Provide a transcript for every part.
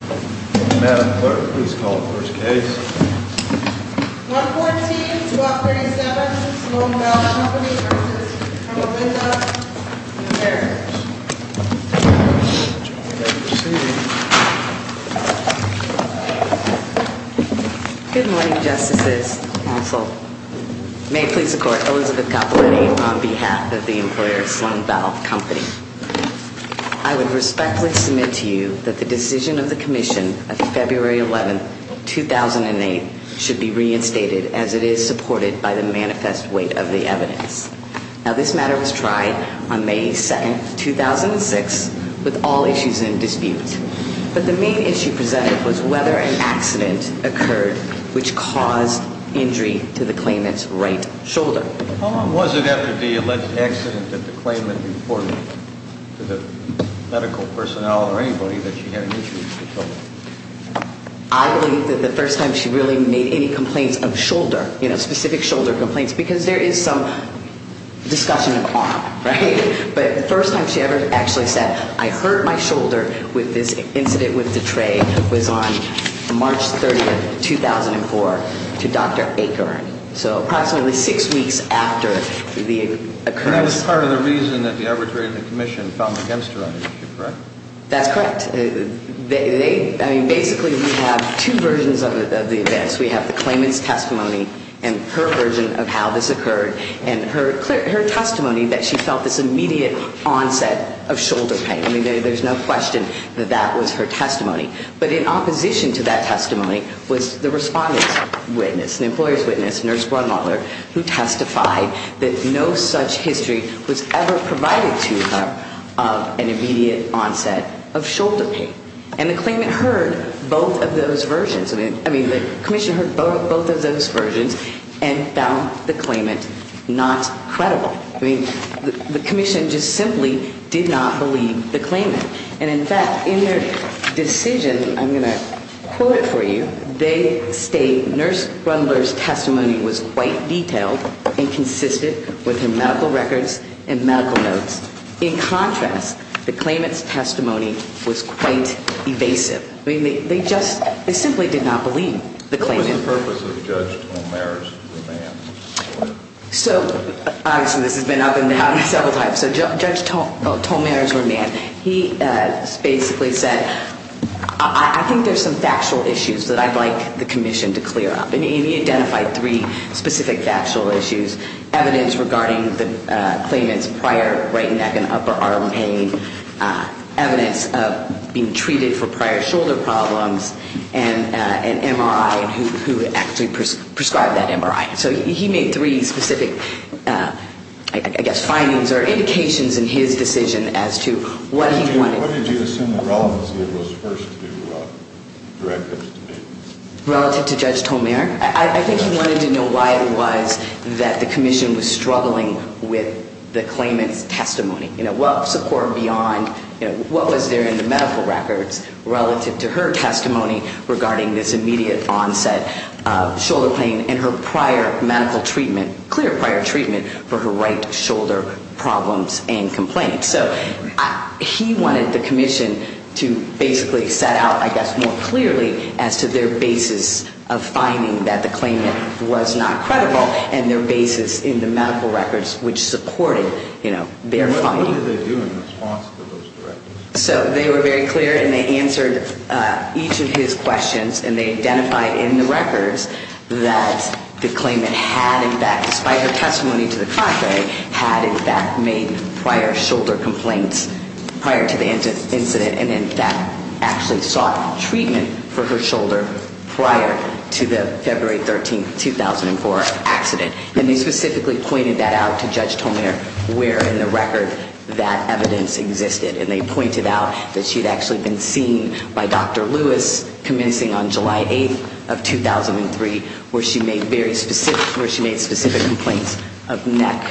Madam Clerk, please call the first case. 114-1237 Sloane Valve Company v. Herlovinda & Barrett Good morning, Justices, Counsel. May it please the Court, Elizabeth Capoletti on behalf of the employer Sloane Valve Company. I would respectfully submit to you that the decision of the Commission on February 11, 2008, should be reinstated as it is supported by the manifest weight of the evidence. Now, this matter was tried on May 2, 2006, with all issues in dispute. But the main issue presented was whether an accident occurred which caused injury to the claimant's right shoulder. How long was it after the alleged accident that the claimant reported to the medical personnel or anybody that she had an issue with the shoulder? I believe that the first time she really made any complaints of shoulder, you know, specific shoulder complaints, because there is some discussion of arm, right? But the first time she ever actually said, I hurt my shoulder with this incident with the tray was on March 30, 2004, to Dr. Aker. So approximately six weeks after the occurrence. That was part of the reason that the arbitrary of the Commission found against her, correct? That's correct. I mean, basically we have two versions of the events. We have the claimant's testimony and her version of how this occurred and her testimony that she felt this immediate onset of shoulder pain. I mean, there's no question that that was her testimony. But in opposition to that testimony was the respondent's witness, the employer's witness, Nurse Brunmuller, who testified that no such history was ever provided to her of an immediate onset of shoulder pain. And the claimant heard both of those versions. I mean, the Commission heard both of those versions and found the claimant not credible. I mean, the Commission just simply did not believe the claimant. And, in fact, in their decision, I'm going to quote it for you, they state Nurse Brunmuller's testimony was quite detailed and consisted within medical records and medical notes. In contrast, the claimant's testimony was quite evasive. I mean, they just simply did not believe the claimant. What was the purpose of Judge Tolmare's remand? So, obviously this has been up and down several times. So Judge Tolmare's remand, he basically said, I think there's some factual issues that I'd like the Commission to clear up. And he identified three specific factual issues, evidence regarding the claimant's prior right neck and upper arm pain, evidence of being treated for prior shoulder problems, and an MRI and who actually prescribed that MRI. So he made three specific, I guess, findings or indications in his decision as to what he wanted. What did you assume the relevancy of those first two directives to be? Relative to Judge Tolmare? I think he wanted to know why it was that the Commission was struggling with the claimant's testimony. You know, what support beyond, you know, what was there in the medical records relative to her testimony regarding this immediate onset of shoulder pain and her prior medical treatment, clear prior treatment for her right shoulder problems and complaints. So he wanted the Commission to basically set out, I guess, more clearly as to their basis of finding that the claimant was not credible and their basis in the medical records which supported, you know, their finding. What did they do in response to those directives? So they were very clear and they answered each of his questions and they identified in the records that the claimant had in fact, despite her testimony to the contrary, had in fact made prior shoulder complaints prior to the incident and in fact actually sought treatment for her shoulder prior to the February 13, 2004 accident. And they specifically pointed that out to Judge Tolmare where in the record that evidence existed and they pointed out that she had actually been seen by Dr. Lewis commencing on July 8 of 2003 where she made specific complaints of neck,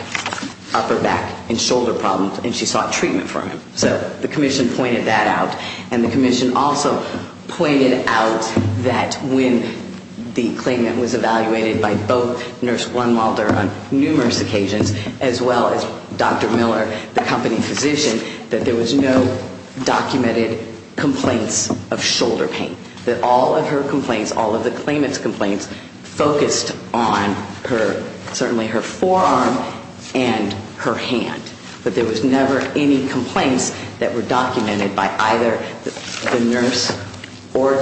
upper back, and shoulder problems and she sought treatment for him. So the Commission pointed that out and the Commission also pointed out that when the claimant was evaluated by both Nurse Blunwalder on numerous occasions as well as Dr. Miller, the company physician, that there was no documented complaints of shoulder pain. That all of her complaints, all of the claimant's complaints, focused on her, certainly her forearm and her hand. But there was never any complaints that were documented by either the nurse or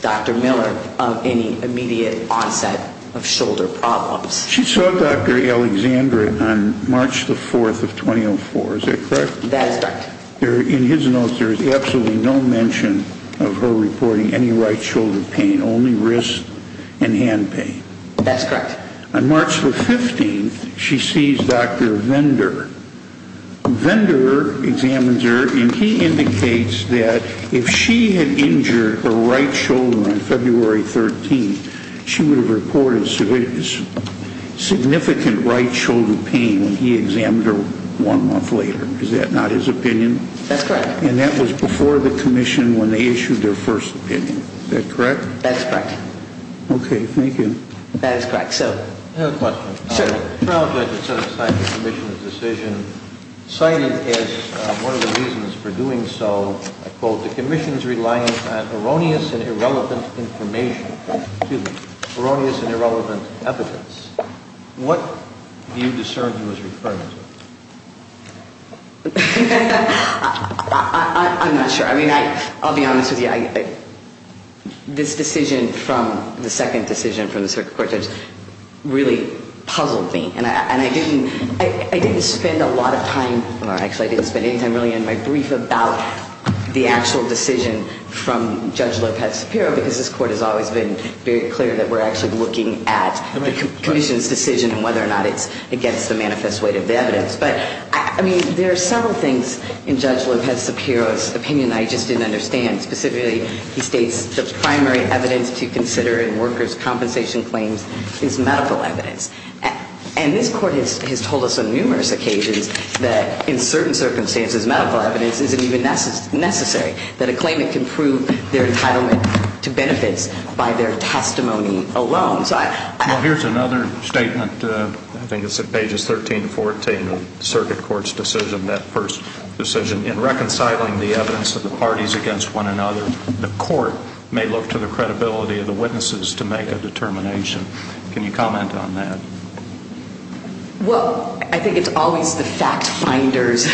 Dr. Miller of any immediate onset of shoulder problems. She saw Dr. Alexandra on March 4, 2004. Is that correct? That is correct. In his notes, there is absolutely no mention of her reporting any right shoulder pain, only wrist and hand pain. That's correct. On March 15, she sees Dr. Vender. Vender examines her and he indicates that if she had injured her right shoulder on February 13, she would have reported significant right shoulder pain when he examined her one month later. Is that not his opinion? That's correct. And that was before the Commission when they issued their first opinion. Is that correct? That's correct. Okay, thank you. That is correct. I have a question. Sure. The trial judge has set aside the Commission's decision, citing as one of the reasons for doing so, I quote, the Commission's reliance on erroneous and irrelevant information, excuse me, erroneous and irrelevant evidence. What do you discern he was referring to? I'm not sure. I mean, I'll be honest with you. This decision from the second decision from the circuit court judge really puzzled me. And I didn't spend a lot of time or actually I didn't spend any time really in my brief about the actual decision from Judge Lopez-Sapiro because this court has always been very clear that we're actually looking at the Commission's decision and whether or not it's against the manifest weight of the evidence. But, I mean, there are several things in Judge Lopez-Sapiro's opinion I just didn't understand. Specifically, he states the primary evidence to consider in workers' compensation claims is medical evidence. And this court has told us on numerous occasions that in certain circumstances medical evidence isn't even necessary, that a claimant can prove their entitlement to benefits by their testimony alone. Well, here's another statement. I think it's at pages 13 and 14 of the circuit court's decision, that first decision. In reconciling the evidence of the parties against one another, the court may look to the credibility of the witnesses to make a determination. Can you comment on that? Well, I think it's always the fact finder's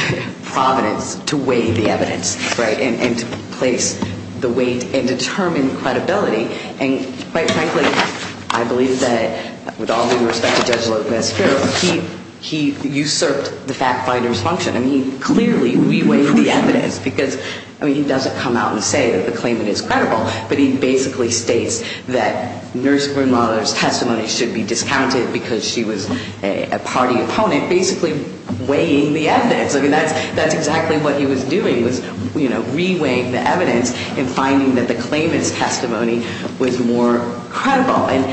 providence to weigh the evidence, right, and to place the weight and determine credibility. And, quite frankly, I believe that with all due respect to Judge Lopez-Sapiro, he usurped the fact finder's function. I mean, he clearly re-weighed the evidence because, I mean, he doesn't come out and say that the claimant is credible, but he basically states that Nurse Grimlauder's testimony should be discounted because she was a party opponent, basically weighing the evidence. I mean, that's exactly what he was doing, was, you know, re-weighing the evidence and finding that the claimant's testimony was more credible. And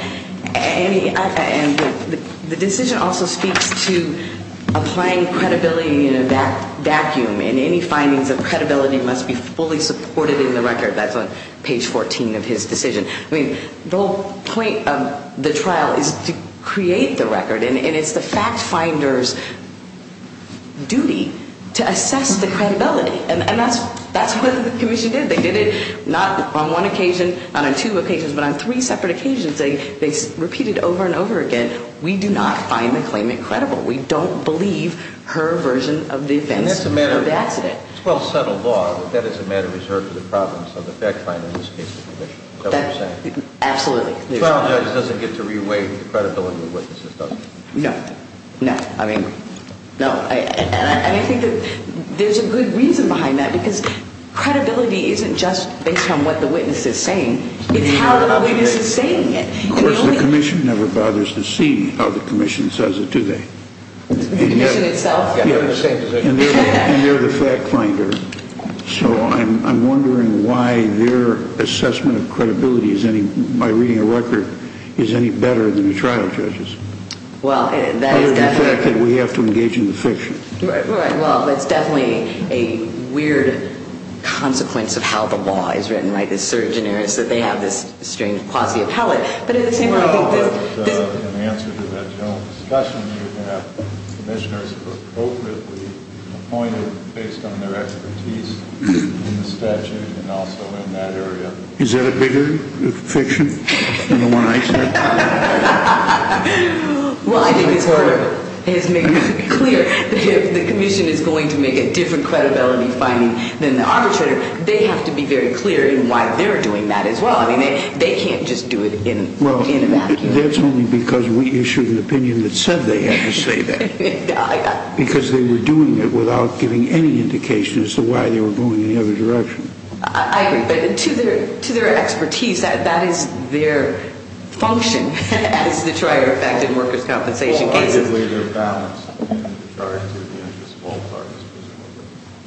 the decision also speaks to applying credibility in a vacuum, and any findings of credibility must be fully supported in the record. That's on page 14 of his decision. I mean, the whole point of the trial is to create the record, and it's the fact finder's duty to assess the credibility. And that's what the commission did. They did it not on one occasion, not on two occasions, but on three separate occasions. They repeated over and over again, we do not find the claimant credible. We don't believe her version of the events of the accident. And that's a matter of well-settled law. That is a matter reserved to the province of the fact finder in this case, the commission. Is that what you're saying? Absolutely. The trial judge doesn't get to re-weigh the credibility of the witnesses, does he? No. No. I mean, no. And I think that there's a good reason behind that because credibility isn't just based on what the witness is saying. It's how the witness is saying it. Of course, the commission never bothers to see how the commission says it, do they? The commission itself? Yes. And they're the fact finder. So I'm wondering why their assessment of credibility by reading a record is any better than the trial judge's, other than the fact that we have to engage in the fiction. Right. Well, that's definitely a weird consequence of how the law is written, right? I mean, I don't think it's surginarious that they have this strange quasi-appellate. But at the same time, I think this — In answer to that general discussion, you can have commissioners appropriately appointed based on their expertise in the statute and also in that area. Is that a bigger fiction than the one I said? Well, I think it's part of it. If the commission is going to make a different credibility finding than the arbitrator, they have to be very clear in why they're doing that as well. I mean, they can't just do it in a vacuum. Well, that's only because we issued an opinion that said they had to say that. Because they were doing it without giving any indication as to why they were going in the other direction. I agree. But to their expertise, that is their function as the trier effect in workers' compensation cases. So basically, they're balanced in regard to the interest of all parties,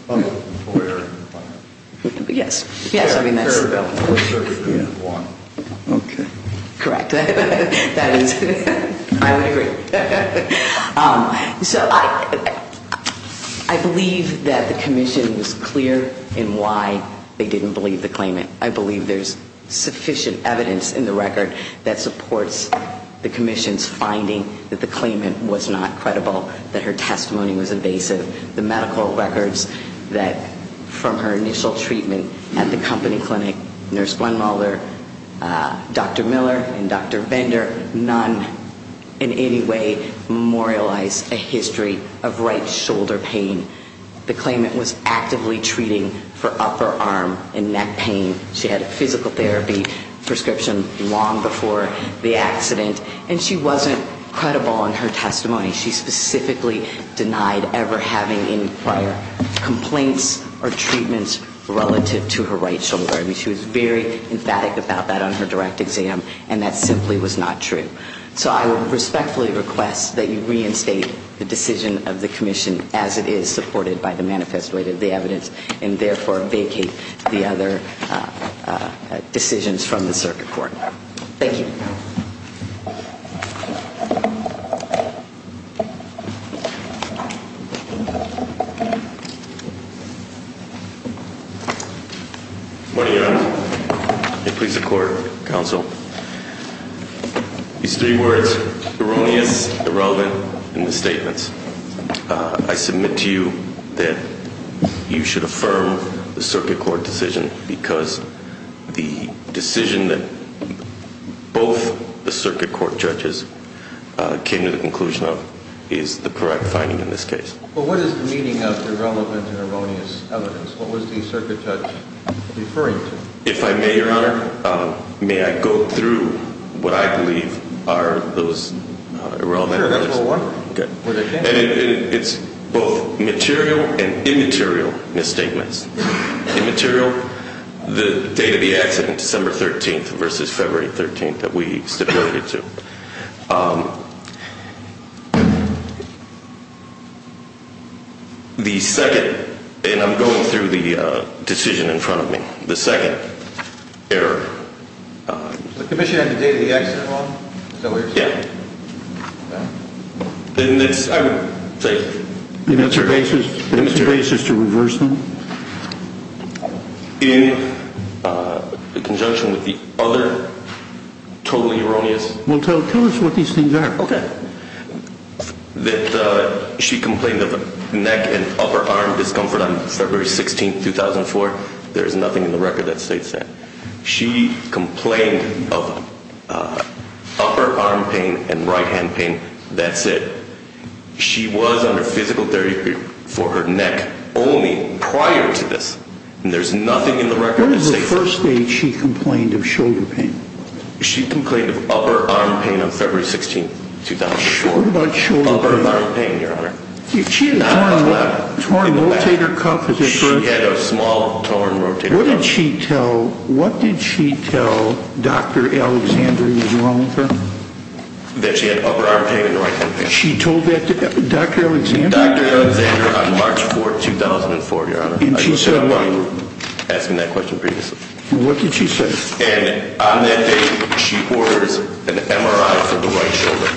whether it's the employer or the client. Yes. Yes, I mean, that's the bill. Or if everything is one. Okay. Correct. That is — I would agree. So I believe that the commission was clear in why they didn't believe the claimant. I believe there's sufficient evidence in the record that supports the commission's finding that the claimant was not credible, that her testimony was evasive. The medical records that — from her initial treatment at the company clinic, Nurse Glenmulder, Dr. Miller, and Dr. Bender, none in any way memorialize a history of right shoulder pain. The claimant was actively treating for upper arm and neck pain. She had a physical therapy prescription long before the accident. And she wasn't credible in her testimony. She specifically denied ever having any prior complaints or treatments relative to her right shoulder. I mean, she was very emphatic about that on her direct exam. And that simply was not true. So I would respectfully request that you reinstate the decision of the commission as it is supported by the manifesto of the evidence, and therefore vacate the other decisions from the circuit court. Thank you. Morning, Your Honor. May it please the court, counsel. These three words, erroneous, irrelevant, and misstatements, I submit to you that you should affirm the circuit court decision, because the decision that both the circuit court judges came to the conclusion of is the correct finding in this case. Well, what is the meaning of irrelevant and erroneous evidence? What was the circuit judge referring to? If I may, Your Honor, may I go through what I believe are those irrelevant — And it's both material and immaterial misstatements. Immaterial, the date of the accident, December 13th versus February 13th that we stipulated to. The second — and I'm going through the decision in front of me. The second error — The commission had the date of the accident wrong? Yeah. And it's — I would say — Is there a basis to reverse them? In conjunction with the other totally erroneous — Well, tell us what these things are. Okay. That she complained of a neck and upper arm discomfort on February 16th, 2004. There is nothing in the record that states that. She complained of upper arm pain and right hand pain. That's it. She was under physical therapy for her neck only prior to this. And there's nothing in the record that states that. What was the first date she complained of shoulder pain? She complained of upper arm pain on February 16th, 2004. What about shoulder pain? Upper arm pain, Your Honor. She had a torn rotator cuff. She had a small torn rotator cuff. What did she tell Dr. Alexander that was wrong with her? That she had upper arm pain and right hand pain. She told that to Dr. Alexander? Dr. Alexander on March 4th, 2004, Your Honor. And she said what? I was asking that question previously. What did she say? And on that date, she orders an MRI for the right shoulder.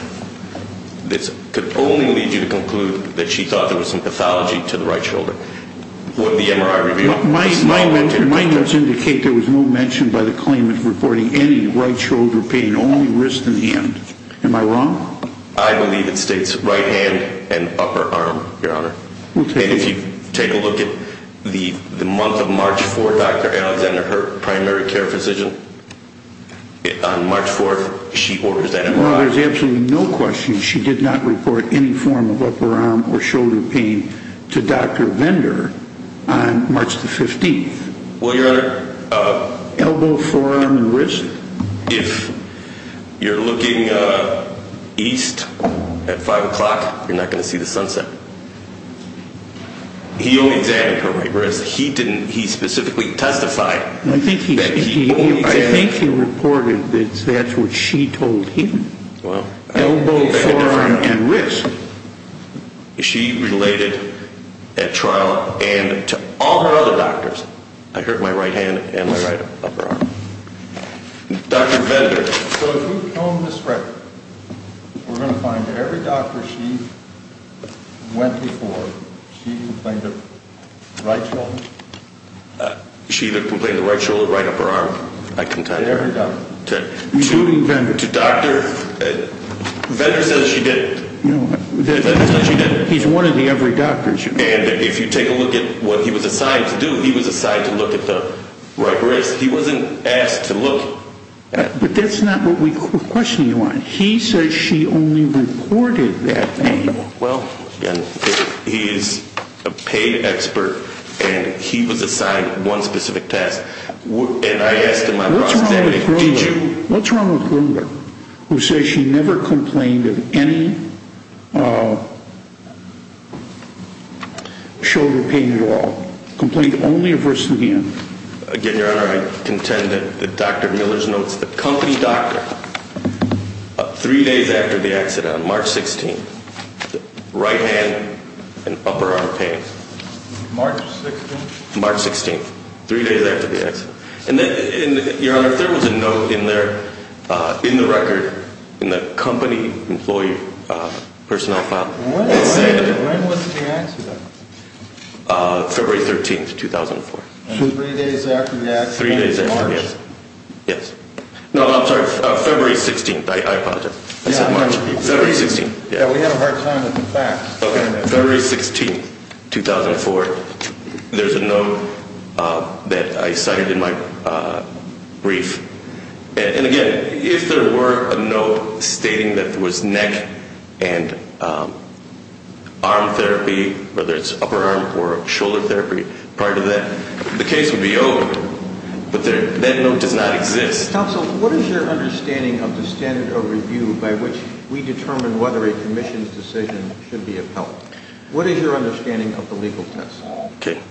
This could only lead you to conclude that she thought there was some pathology to the right shoulder. What did the MRI reveal? My notes indicate there was no mention by the claimant reporting any right shoulder pain, only wrist and hand. Am I wrong? I believe it states right hand and upper arm, Your Honor. And if you take a look at the month of March 4th, Dr. Alexander, her primary care physician, on March 4th, she orders that MRI. Well, there's absolutely no question she did not report any form of upper arm or shoulder pain to Dr. Vendor on March the 15th. Well, Your Honor. Elbow, forearm, and wrist? If you're looking east at 5 o'clock, you're not going to see the sunset. He only examined her right wrist. He specifically testified that he only examined. I think he reported that that's what she told him. Elbow, forearm, and wrist. She related at trial and to all her other doctors, I hurt my right hand and my right upper arm. Dr. Vendor. So if we comb this record, we're going to find that every doctor she went before, she complained of right shoulder? She complained of right shoulder, right upper arm. Every doctor. Including Vendor. To Dr. Vendor. Vendor says she didn't. Vendor says she didn't. He's one of the every doctors. And if you take a look at what he was assigned to do, he was assigned to look at the right wrist. He wasn't asked to look. But that's not what we're questioning, Your Honor. He says she only reported that pain. Well, again, he's a pain expert, and he was assigned one specific test. And I asked him. What's wrong with Grunger? Who says she never complained of any shoulder pain at all? Complained only of wrist again. Again, Your Honor, I contend that Dr. Miller's notes, the company doctor, three days after the accident, March 16th, right hand and upper arm pain. March 16th? March 16th. Three days after the accident. And, Your Honor, if there was a note in there, in the record, in the company employee personnel file. When was the accident? February 13th, 2004. And three days after the accident, March. Yes. No, I'm sorry. February 16th. I apologize. I said March. February 16th. Yeah, we had a hard time with the facts. Okay. February 16th, 2004. There's a note that I cited in my brief. And, again, if there were a note stating that there was neck and arm therapy, whether it's upper arm or shoulder therapy, part of that, the case would be over. But that note does not exist. Counsel, what is your understanding of the standard of review by which we determine whether a commission's decision should be upheld? What is your understanding of the legal test? Okay.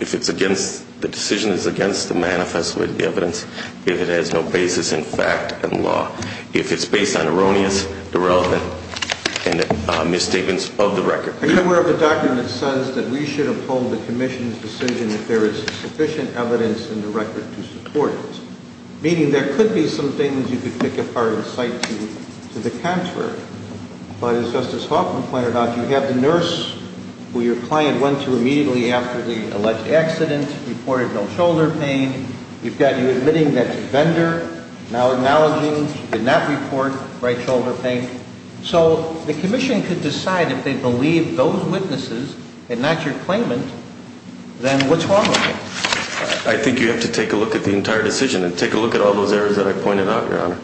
If it's against the decision, it's against the manifest with evidence. If it has no basis in fact and law. If it's based on erroneous, irrelevant, and misstatements of the record. Are you aware of the document that says that we should uphold the commission's decision if there is sufficient evidence in the record to support it? Meaning there could be some things you could pick apart and cite to the contrary. But as Justice Hoffman pointed out, you have the nurse who your client went to immediately after the alleged accident, reported no shoulder pain. You've got you admitting that to vendor, now acknowledging she did not report right shoulder pain. So the commission could decide if they believe those witnesses and not your claimant, then what's wrong with it? I think you have to take a look at the entire decision and take a look at all those areas that I pointed out, Your Honor.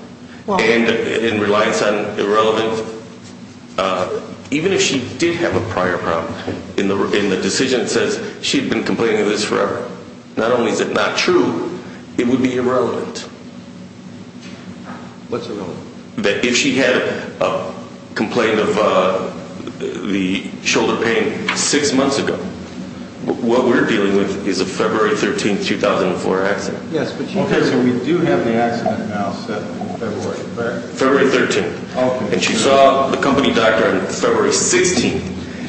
And in reliance on irrelevant, even if she did have a prior problem in the decision, it says she'd been complaining of this forever. Not only is it not true, it would be irrelevant. What's irrelevant? That if she had a complaint of the shoulder pain six months ago, what we're dealing with is a February 13, 2004 accident. Yes, but you do have the accident now set in February. February 13. And she saw the company doctor on February 16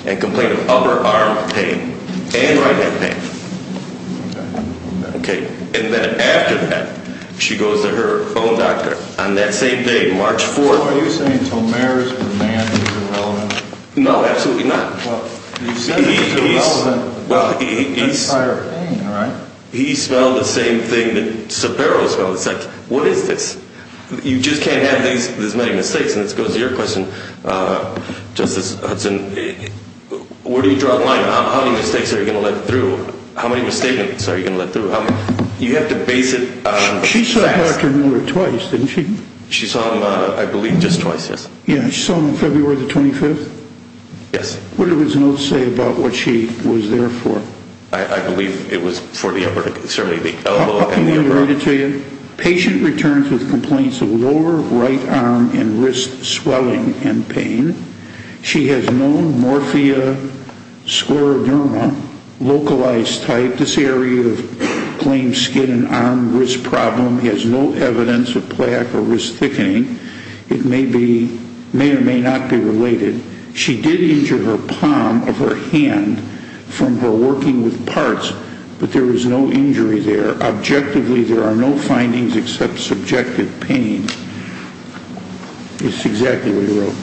and complained of upper arm pain and right hand pain. Okay. And then after that, she goes to her own doctor on that same day, March 4th. So are you saying Tomer's demand is irrelevant? No, absolutely not. Well, you've said it's irrelevant. Well, he's... That's higher pain, right? He spelled the same thing that Sabero spelled. It's like, what is this? You just can't have these many mistakes. And this goes to your question, Justice Hudson. Where do you draw the line? How many mistakes are you going to let through? How many mistakes are you going to let through? You have to base it on facts. She saw Dr. Mueller twice, didn't she? She saw him, I believe, just twice, yes. Yeah, she saw him on February the 25th? Yes. What did his notes say about what she was there for? I believe it was for the upper extremity. Let me read it to you. Patient returns with complaints of lower right arm and wrist swelling and pain. She has known morphia scleroderma, localized type. This area of claimed skin and arm wrist problem has no evidence of plaque or wrist thickening. It may or may not be related. She did injure her palm of her hand from her working with parts, but there was no injury there. Objectively, there are no findings except subjective pain. It's exactly what he wrote.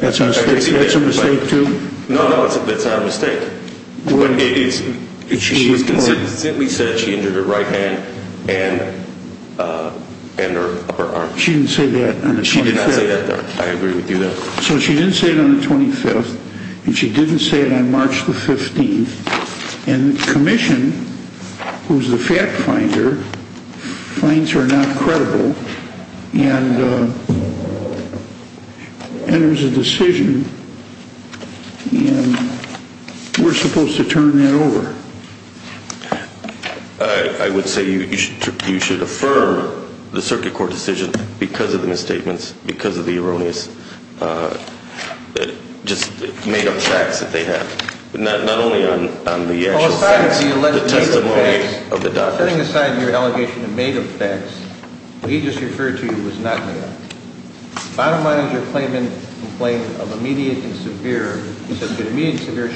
That's a mistake, too? No, no, that's not a mistake. She said she injured her right hand and her upper arm. She didn't say that on the 25th. She did not say that. I agree with you there. So she didn't say it on the 25th, and she didn't say it on March the 15th. And the commission, who's the fact finder, finds her not credible and enters a decision, and we're supposed to turn that over. I would say you should affirm the circuit court decision because of the misstatements, because of the erroneous, just made-up facts that they have, but not only on the actual facts, the testimonies of the doctors. Setting aside your allegation of made-up facts, what he just referred to was not made-up. Bottom line is you're complaining of immediate and severe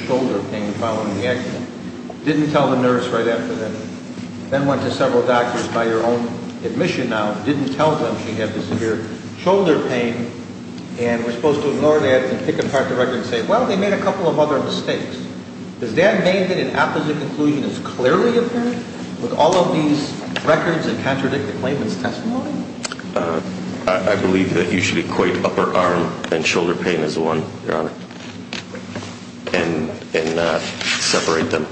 shoulder pain following the accident, didn't tell the nurse right after that, then went to several doctors by your own admission now, didn't tell them she had the severe shoulder pain, and we're supposed to ignore that and pick apart the record and say, well, they made a couple of other mistakes. Does that mean that an opposite conclusion is clearly apparent with all of these records that contradict the claimant's testimony? I believe that you should equate upper arm and shoulder pain as one, Your Honor, and not separate them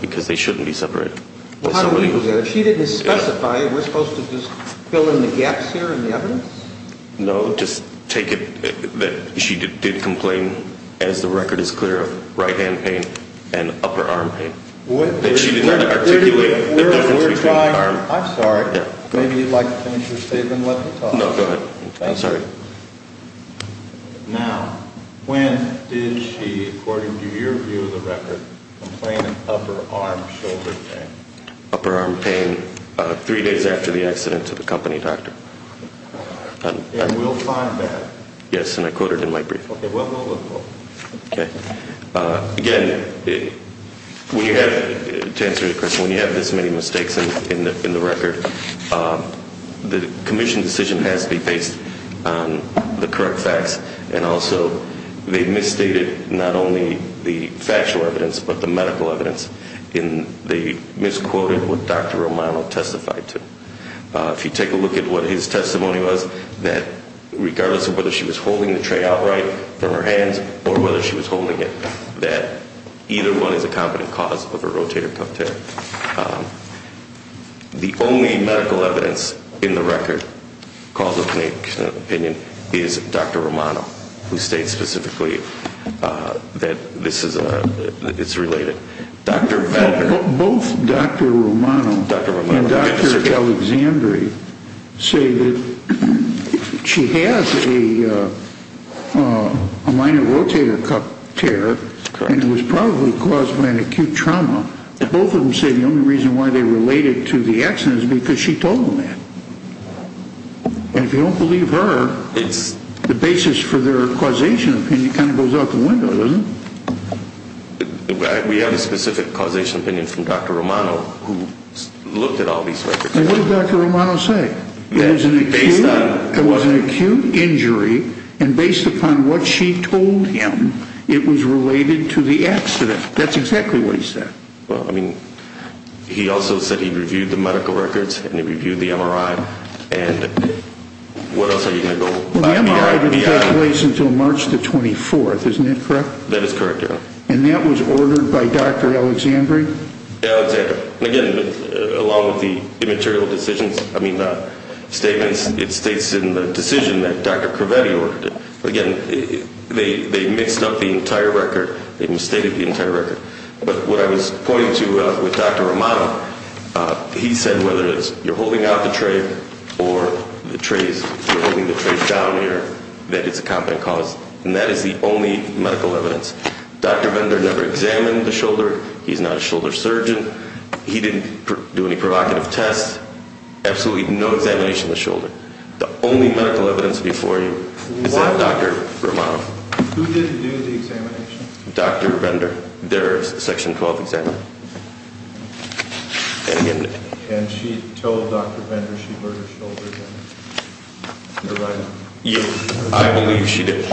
because they shouldn't be separated. How do we do that? If she didn't specify, we're supposed to just fill in the gaps here in the evidence? No, just take it that she did complain, as the record is clear, of right hand pain and upper arm pain, that she did not articulate the difference between the arm. I'm sorry. Maybe you'd like to finish your statement and let me talk. No, go ahead. I'm sorry. Now, when did she, according to your view of the record, complain of upper arm shoulder pain? Upper arm pain three days after the accident to the company doctor. And we'll find that. Yes, and I quoted it in my brief. Okay, well, we'll look for it. Again, to answer your question, when you have this many mistakes in the record, the commission decision has to be based on the correct facts, and also they misstated not only the factual evidence but the medical evidence, and they misquoted what Dr. Romano testified to. If you take a look at what his testimony was, that regardless of whether she was holding the tray outright from her hands or whether she was holding it, that either one is a competent cause of a rotator cuff tear. The only medical evidence in the record, cause of opinion, is Dr. Romano, who states specifically that this is related. Both Dr. Romano and Dr. Alexandria say that she has a minor rotator cuff tear and it was probably caused by an acute trauma. Both of them say the only reason why they related to the accident is because she told them that. And if you don't believe her, the basis for their causation opinion kind of goes out the window, doesn't it? We have a specific causation opinion from Dr. Romano who looked at all these records. What did Dr. Romano say? It was an acute injury, and based upon what she told him, it was related to the accident. That's exactly what he said. Well, I mean, he also said he reviewed the medical records and he reviewed the MRI. And what else are you going to go by? Well, the MRI didn't take place until March the 24th, isn't that correct? That is correct, yeah. And that was ordered by Dr. Alexandria? Yeah, Alexandria. And again, along with the immaterial decisions, I mean, statements, it states in the decision that Dr. Cravetti ordered it. Again, they mixed up the entire record. They misstated the entire record. But what I was pointing to with Dr. Romano, he said whether it's you're holding out the tray or the trays, you're holding the trays down here, that it's a competent cause. And that is the only medical evidence. Dr. Vendor never examined the shoulder. He's not a shoulder surgeon. He didn't do any provocative tests. Absolutely no examination of the shoulder. The only medical evidence before you is that of Dr. Romano. Who didn't do the examination? Dr. Vendor, their Section 12 examiner. And she told Dr. Vendor she burned her shoulder? I believe she did,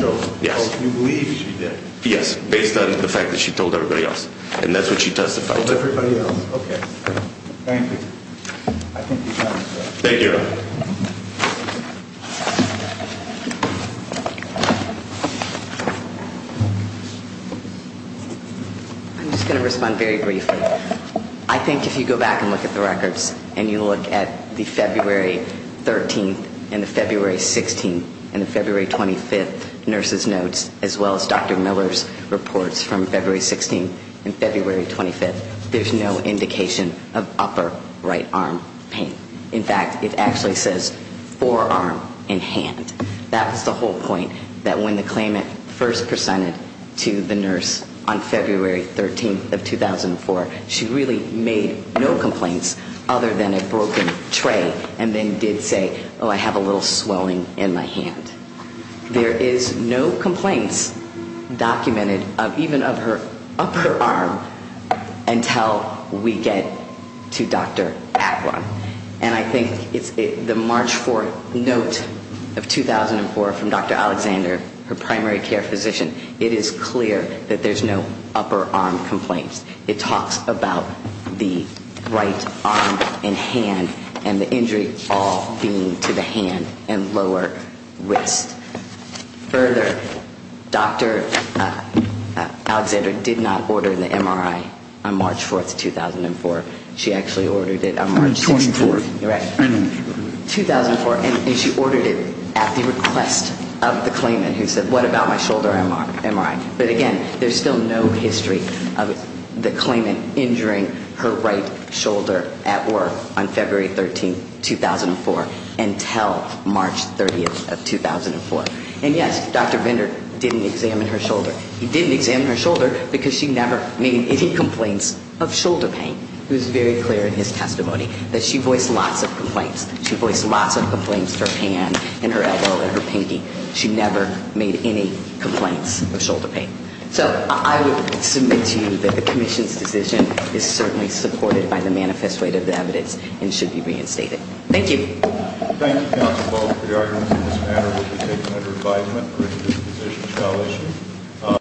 yes. Oh, you believe she did? Yes, based on the fact that she told everybody else. And that's what she testified to. Told everybody else, okay. Thank you. Thank you. I'm just going to respond very briefly. I think if you go back and look at the records and you look at the February 13th and the February 16th and the February 25th nurse's notes, as well as Dr. Miller's reports from February 16th and February 25th, there's no indication of upper right arm pain. In fact, it actually says forearm and hand. That was the whole point, that when the claimant first presented to the nurse on February 13th of 2004, she really made no complaints other than a broken tray and then did say, oh, I have a little swelling in my hand. There is no complaints documented, even of her upper arm, until we get to Dr. Agron. And I think it's the March 4th note of 2004 from Dr. Alexander, her primary care physician, it is clear that there's no upper arm complaints. It talks about the right arm and hand and the injury all being to the hand and lower wrist. Further, Dr. Alexander did not order the MRI on March 4th, 2004. She actually ordered it on March 6th, 2004. And she ordered it at the request of the claimant who said, what about my shoulder MRI? But again, there's still no history of the claimant injuring her right shoulder at work on February 13th, 2004, until March 30th of 2004. And yes, Dr. Vendor didn't examine her shoulder. He didn't examine her shoulder because she never made any complaints of shoulder pain. It was very clear in his testimony that she voiced lots of complaints. She voiced lots of complaints, her hand and her elbow and her pinky. She never made any complaints of shoulder pain. So I would submit to you that the commission's decision is certainly supported by the manifest weight of the evidence and should be reinstated. Thank you. Thank you, counsel, both for your arguments in this matter. We'll be taking it under advisement. The rest of this decision shall issue.